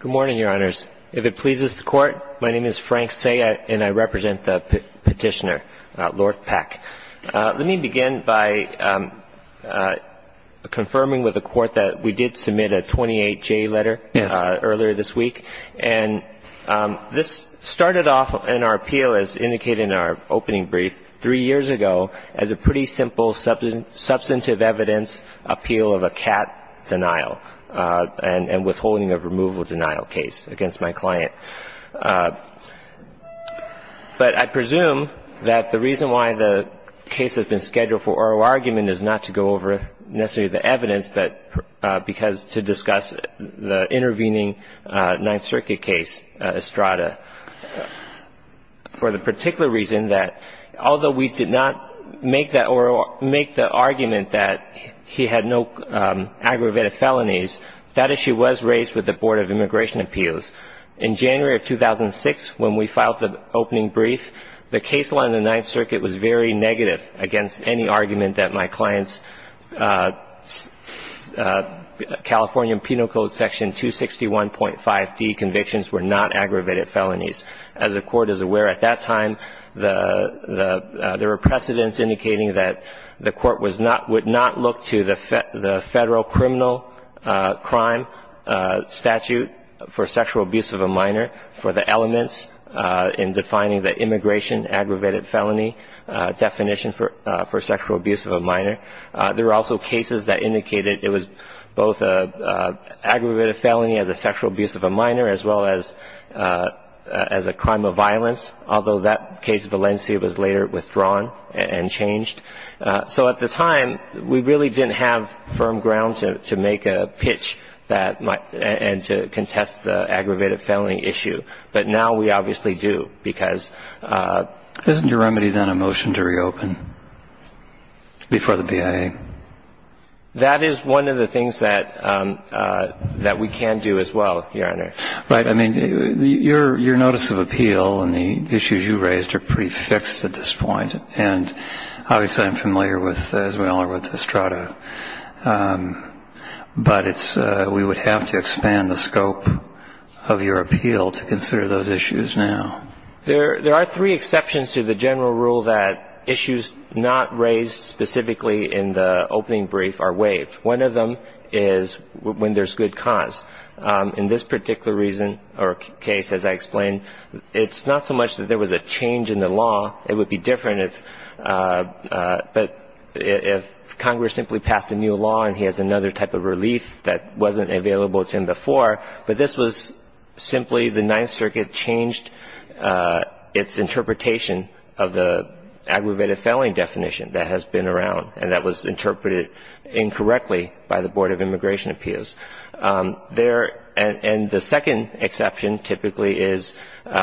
Good morning, Your Honors. If it pleases the Court, my name is Frank Sayet, and I represent the petitioner, Lord Peck. Let me begin by confirming with the Court that we did submit a 28-J letter earlier this week. And this started off in our appeal, as indicated in our opening brief, three years ago, as a pretty simple substantive evidence appeal of a cat denial and withholding of removal denial case against my client. But I presume that the reason why the case has been scheduled for oral argument is not to go over necessarily the evidence, but because to discuss the intervening Ninth Circuit case, Estrada, for the particular reason that although we did not make the argument that he had no aggravated felonies, that issue was raised with the Board of Immigration Appeals. In January of 2006, when we filed the opening brief, the case law in the Ninth Circuit was very negative against any argument that my client's California Penal Code Section 261.5d convictions were not aggravated felonies. As the Court is aware, at that time there were precedents indicating that the Court would not look to the federal criminal crime statute for sexual abuse of a minor for the elements in defining the immigration aggravated felony definition for sexual abuse of a minor. There were also cases that indicated it was both an aggravated felony as a sexual abuse of a minor, as well as a crime of violence, although that case of Valencia was later withdrawn and changed. So at the time, we really didn't have firm ground to make a pitch and to contest the aggravated felony issue. But now we obviously do, because of ---- Isn't your remedy then a motion to reopen before the BIA? That is one of the things that we can do as well, Your Honor. Right. I mean, your notice of appeal and the issues you raised are pretty fixed at this point. And obviously I'm familiar with, as we all are, with Estrada. But it's we would have to expand the scope of your appeal to consider those issues now. There are three exceptions to the general rule that issues not raised specifically in the opening brief are waived. One of them is when there's good cause. In this particular reason or case, as I explained, it's not so much that there was a change in the law. It would be different if Congress simply passed a new law and he has another type of relief that wasn't available to him before. But this was simply the Ninth Circuit changed its interpretation of the aggravated felony definition that has been around and that was interpreted incorrectly by the Board of Immigration Appeals. There ---- and the second exception typically is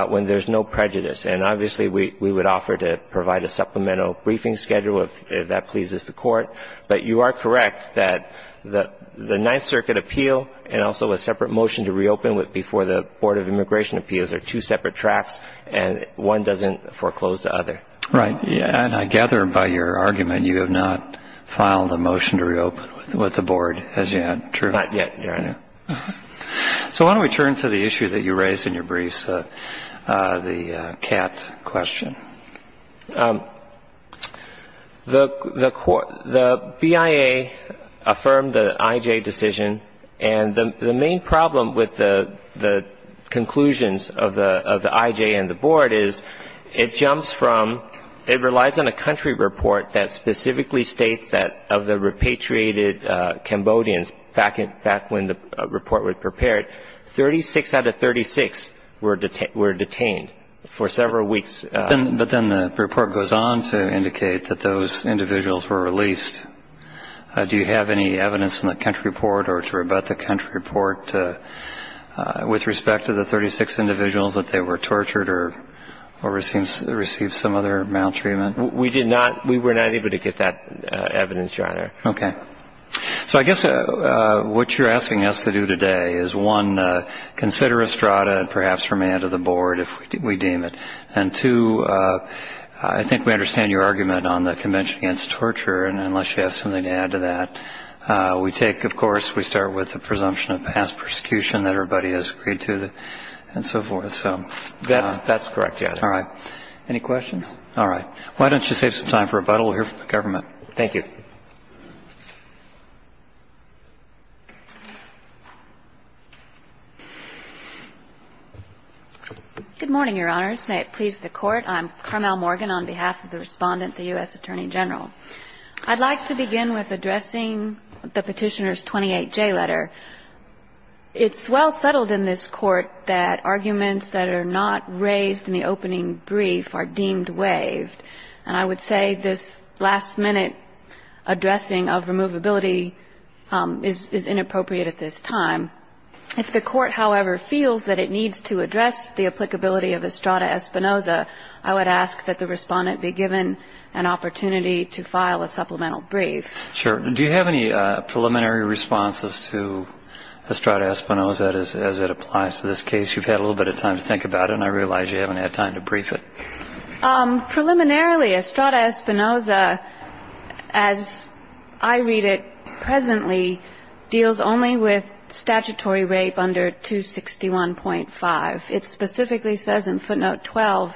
when there's no prejudice. And obviously we would offer to provide a supplemental briefing schedule if that pleases the Court. But you are correct that the Ninth Circuit appeal and also a separate motion to reopen before the Board of Immigration Appeals are two separate tracks and one doesn't foreclose the other. Right. And I gather by your argument you have not filed a motion to reopen with the Board as yet, true? Not yet, Your Honor. So why don't we turn to the issue that you raised in your briefs, the CAT question. The BIA affirmed the IJ decision. And the main problem with the conclusions of the IJ and the Board is it jumps from ---- it relies on a country report that specifically states that of the repatriated Cambodians back when the report was prepared, 36 out of 36 were detained for several weeks. But then the report goes on to indicate that those individuals were released. Do you have any evidence in the country report or to rebut the country report with respect to the 36 individuals that they were tortured or received some other maltreatment? We did not. We were not able to get that evidence, Your Honor. Okay. So I guess what you're asking us to do today is, one, consider Estrada and perhaps remand to the Board if we deem it. And, two, I think we understand your argument on the Convention Against Torture, unless you have something to add to that. We take, of course, we start with the presumption of past persecution that everybody has agreed to and so forth. That's correct, yes. All right. Any questions? All right. Why don't you save some time for rebuttal. We'll hear from the government. Thank you. Good morning, Your Honors. May it please the Court. I'm Carmel Morgan on behalf of the Respondent, the U.S. Attorney General. I'd like to begin with addressing the Petitioner's 28J letter. It's well settled in this Court that arguments that are not raised in the opening brief are deemed waived. If the Court, however, feels that it needs to address the applicability of Estrada-Espinoza, I would ask that the Respondent be given an opportunity to file a supplemental brief. Sure. Do you have any preliminary responses to Estrada-Espinoza as it applies to this case? You've had a little bit of time to think about it, and I realize you haven't had time to brief it. Preliminarily, Estrada-Espinoza, as I read it presently, deals only with statutory rape under 261.5. It specifically says in footnote 12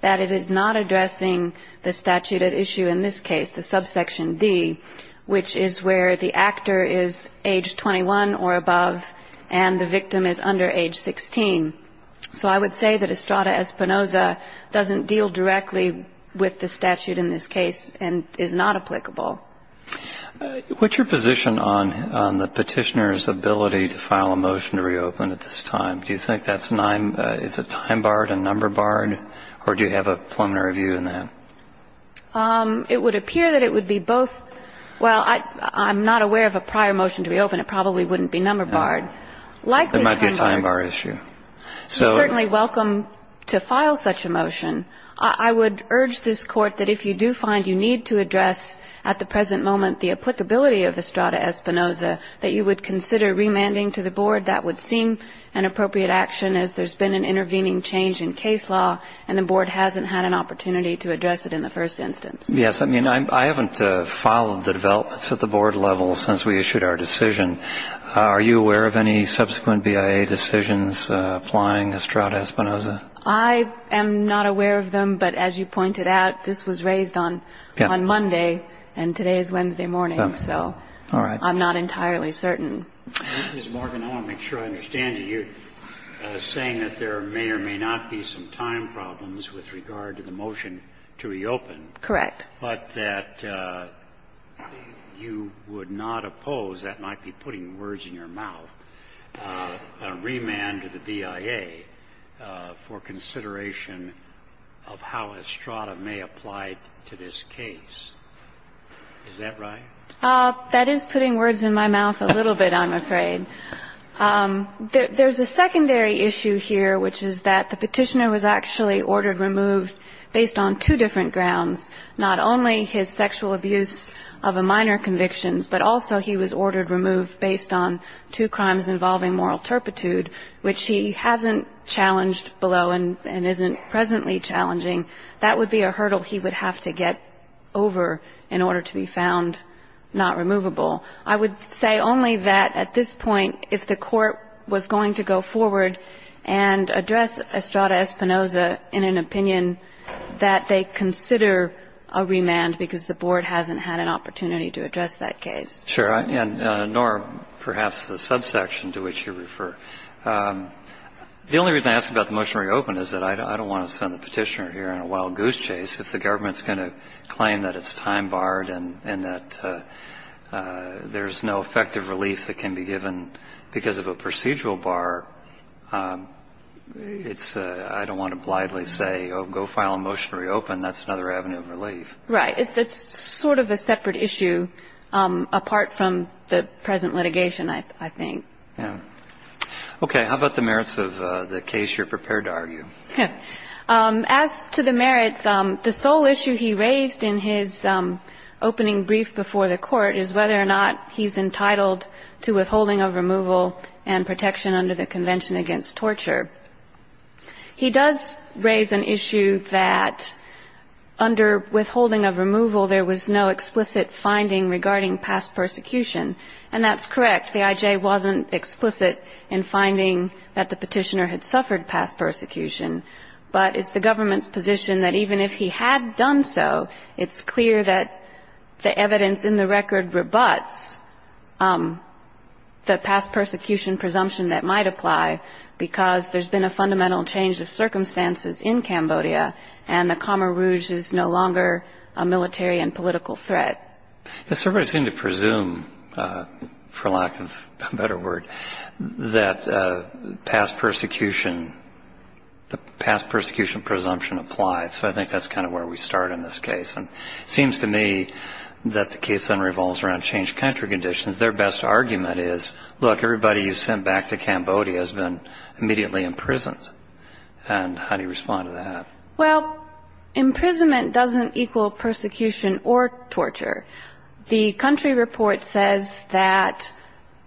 that it is not addressing the statute at issue in this case, the subsection D, which is where the actor is age 21 or above and the victim is under age 16. So I would say that Estrada-Espinoza doesn't deal directly with the statute in this case and is not applicable. What's your position on the Petitioner's ability to file a motion to reopen at this time? Do you think that's a time barred, a number barred, or do you have a preliminary view on that? It would appear that it would be both. Well, I'm not aware of a prior motion to reopen. It probably wouldn't be number barred. There might be a time bar issue. You're certainly welcome to file such a motion. I would urge this Court that if you do find you need to address at the present moment the applicability of Estrada-Espinoza, that you would consider remanding to the Board. That would seem an appropriate action as there's been an intervening change in case law and the Board hasn't had an opportunity to address it in the first instance. Yes, I mean, I haven't followed the developments at the Board level since we issued our decision. Are you aware of any subsequent BIA decisions applying Estrada-Espinoza? I am not aware of them. But as you pointed out, this was raised on Monday and today is Wednesday morning. So I'm not entirely certain. Ms. Morgan, I want to make sure I understand you. You're saying that there may or may not be some time problems with regard to the motion to reopen. Correct. But that you would not oppose, that might be putting words in your mouth, a remand to the BIA for consideration of how Estrada may apply to this case. Is that right? That is putting words in my mouth a little bit, I'm afraid. There's a secondary issue here, which is that the Petitioner was actually ordered removed based on two different grounds, not only his sexual abuse of a minor conviction, but also he was ordered removed based on two crimes involving moral turpitude, which he hasn't challenged below and isn't presently challenging. That would be a hurdle he would have to get over in order to be found not removable. I would say only that at this point, if the Court was going to go forward and address Estrada Espinoza in an opinion that they consider a remand because the Board hasn't had an opportunity to address that case. Sure. Nor perhaps the subsection to which you refer. The only reason I ask about the motion to reopen is that I don't want to send the Petitioner here on a wild goose chase. If the government's going to claim that it's time barred and that there's no effective relief that can be given because of a procedural bar, I don't want to blithely say, go file a motion to reopen. That's another avenue of relief. Right. It's sort of a separate issue apart from the present litigation, I think. Yeah. Okay. How about the merits of the case you're prepared to argue? He's entitled to withholding of removal and protection under the Convention Against Torture. He does raise an issue that under withholding of removal, there was no explicit finding regarding past persecution. And that's correct. The IJ wasn't explicit in finding that the Petitioner had suffered past persecution. But it's the government's position that even if he had done so, it's clear that the evidence in the record rebuts the past persecution presumption that might apply because there's been a fundamental change of circumstances in Cambodia and the Khmer Rouge is no longer a military and political threat. It's surprising to presume, for lack of a better word, that the past persecution presumption applies. So I think that's kind of where we start in this case. And it seems to me that the case then revolves around changed country conditions. Their best argument is, look, everybody you sent back to Cambodia has been immediately imprisoned. And how do you respond to that? Well, imprisonment doesn't equal persecution or torture. The country report says that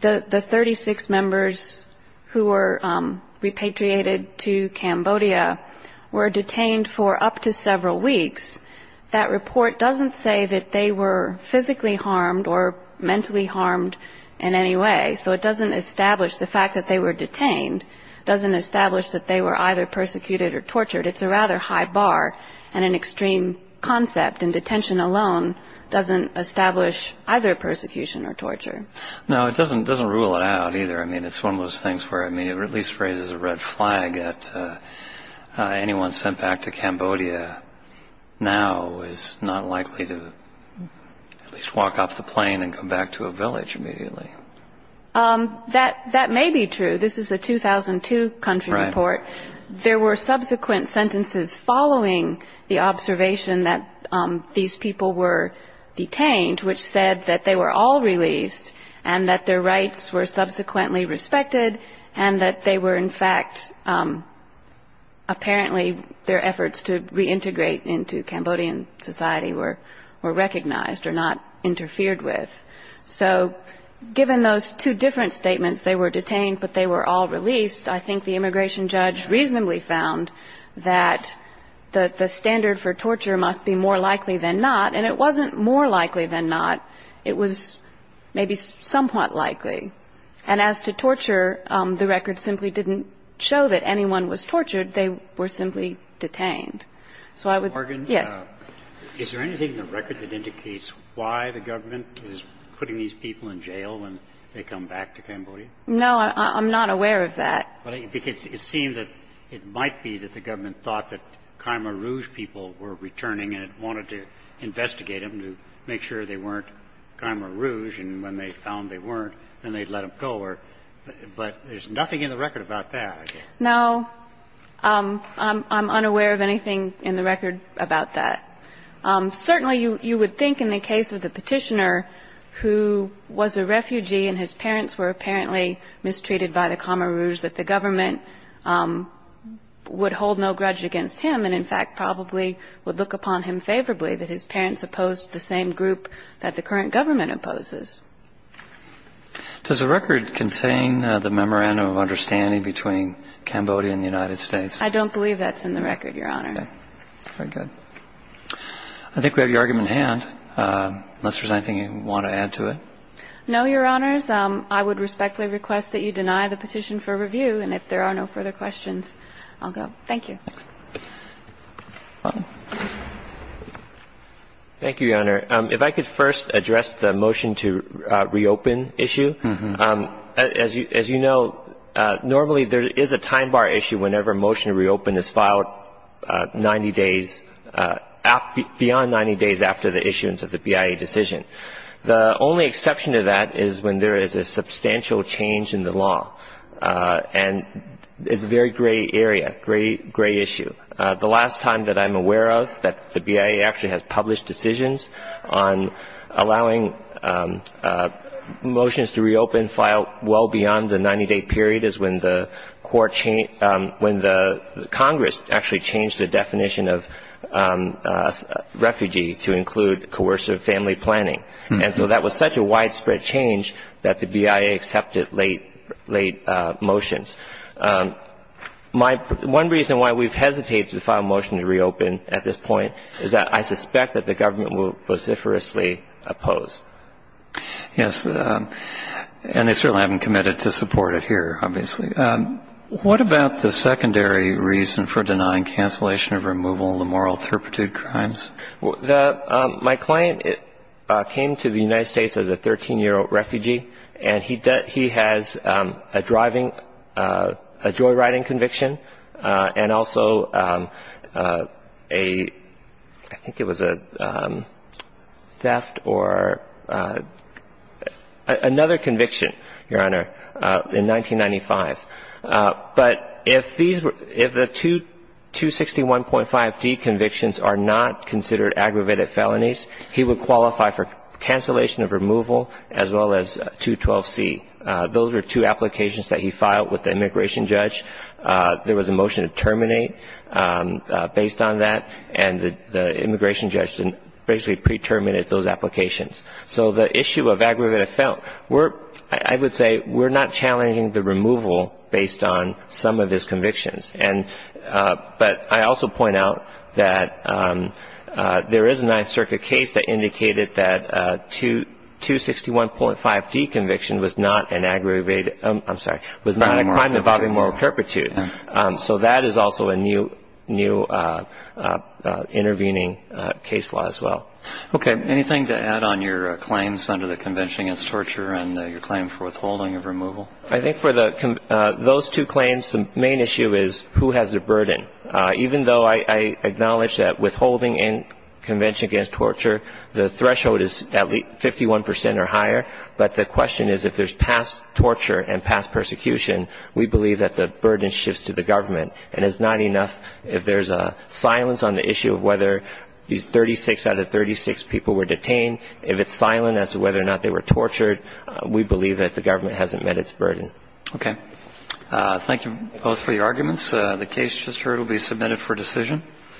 the 36 members who were repatriated to Cambodia were detained for up to several weeks. That report doesn't say that they were physically harmed or mentally harmed in any way. So it doesn't establish the fact that they were detained. It doesn't establish that they were either persecuted or tortured. It's a rather high bar. And an extreme concept in detention alone doesn't establish either persecution or torture. No, it doesn't rule it out either. I mean, it's one of those things where it at least raises a red flag that anyone sent back to Cambodia now is not likely to at least walk off the plane and come back to a village immediately. That may be true. This is a 2002 country report. There were subsequent sentences following the observation that these people were detained, which said that they were all released and that their rights were subsequently respected and that they were, in fact, apparently their efforts to reintegrate into Cambodian society were recognized or not interfered with. So given those two different statements, they were detained but they were all released, I think the immigration judge reasonably found that the standard for torture must be more likely than not. And it wasn't more likely than not. It was maybe somewhat likely. And as to torture, the record simply didn't show that anyone was tortured. They were simply detained. So I would- Morgan? Yes. Is there anything in the record that indicates why the government is putting these people in jail when they come back to Cambodia? No. I'm not aware of that. Because it seems that it might be that the government thought that Khmer Rouge people were returning and it wanted to investigate them to make sure they weren't Khmer Rouge. And when they found they weren't, then they'd let them go. But there's nothing in the record about that. No. I'm unaware of anything in the record about that. Certainly you would think in the case of the petitioner who was a refugee and his parents were apparently mistreated by the Khmer Rouge that the government would hold no grudge against him and, in fact, probably would look upon him favorably, that his parents opposed the same group that the current government opposes. Does the record contain the memorandum of understanding between Cambodia and the United States? I don't believe that's in the record, Your Honor. Okay. Very good. I think we have your argument at hand, unless there's anything you want to add to it. No, Your Honors. I would respectfully request that you deny the petition for review. And if there are no further questions, I'll go. Thank you. Thank you, Your Honor. If I could first address the motion to reopen issue. As you know, normally there is a time bar issue whenever a motion to reopen is filed 90 days beyond 90 days after the issuance of the BIA decision. The only exception to that is when there is a substantial change in the law. And it's a very gray area, gray issue. The last time that I'm aware of that the BIA actually has published decisions on allowing motions to reopen filed well beyond the 90-day period is when the Congress actually changed the definition of refugee to include coercive family planning. And so that was such a widespread change that the BIA accepted late motions. One reason why we've hesitated to file a motion to reopen at this point is that I suspect that the government will vociferously oppose. Yes, and they certainly haven't committed to support it here, obviously. What about the secondary reason for denying cancellation of removal, the moral turpitude crimes? My client came to the United States as a 13-year-old refugee, and he has a driving, a joyriding conviction, and also a, I think it was a theft or another conviction, Your Honor, in 1995. But if the 261.5D convictions are not considered aggravated felonies, he would qualify for cancellation of removal as well as 212C. Those are two applications that he filed with the immigration judge. There was a motion to terminate based on that, and the immigration judge basically pre-terminated those applications. So the issue of aggravated felonies, I would say we're not challenging the removal based on some of his convictions. But I also point out that there is a Ninth Circuit case that indicated that 261.5D conviction was not an aggravated, I'm sorry, was not a crime involving moral turpitude. So that is also a new intervening case law as well. Okay. Anything to add on your claims under the Convention Against Torture and your claim for withholding of removal? I think for those two claims, the main issue is who has the burden. Even though I acknowledge that withholding in Convention Against Torture, the threshold is at least 51 percent or higher, but the question is if there's past torture and past persecution, we believe that the burden shifts to the government. And it's not enough if there's a silence on the issue of whether these 36 out of 36 people were detained. If it's silent as to whether or not they were tortured, we believe that the government hasn't met its burden. Okay. Thank you both for your arguments. The case just heard will be submitted for decision.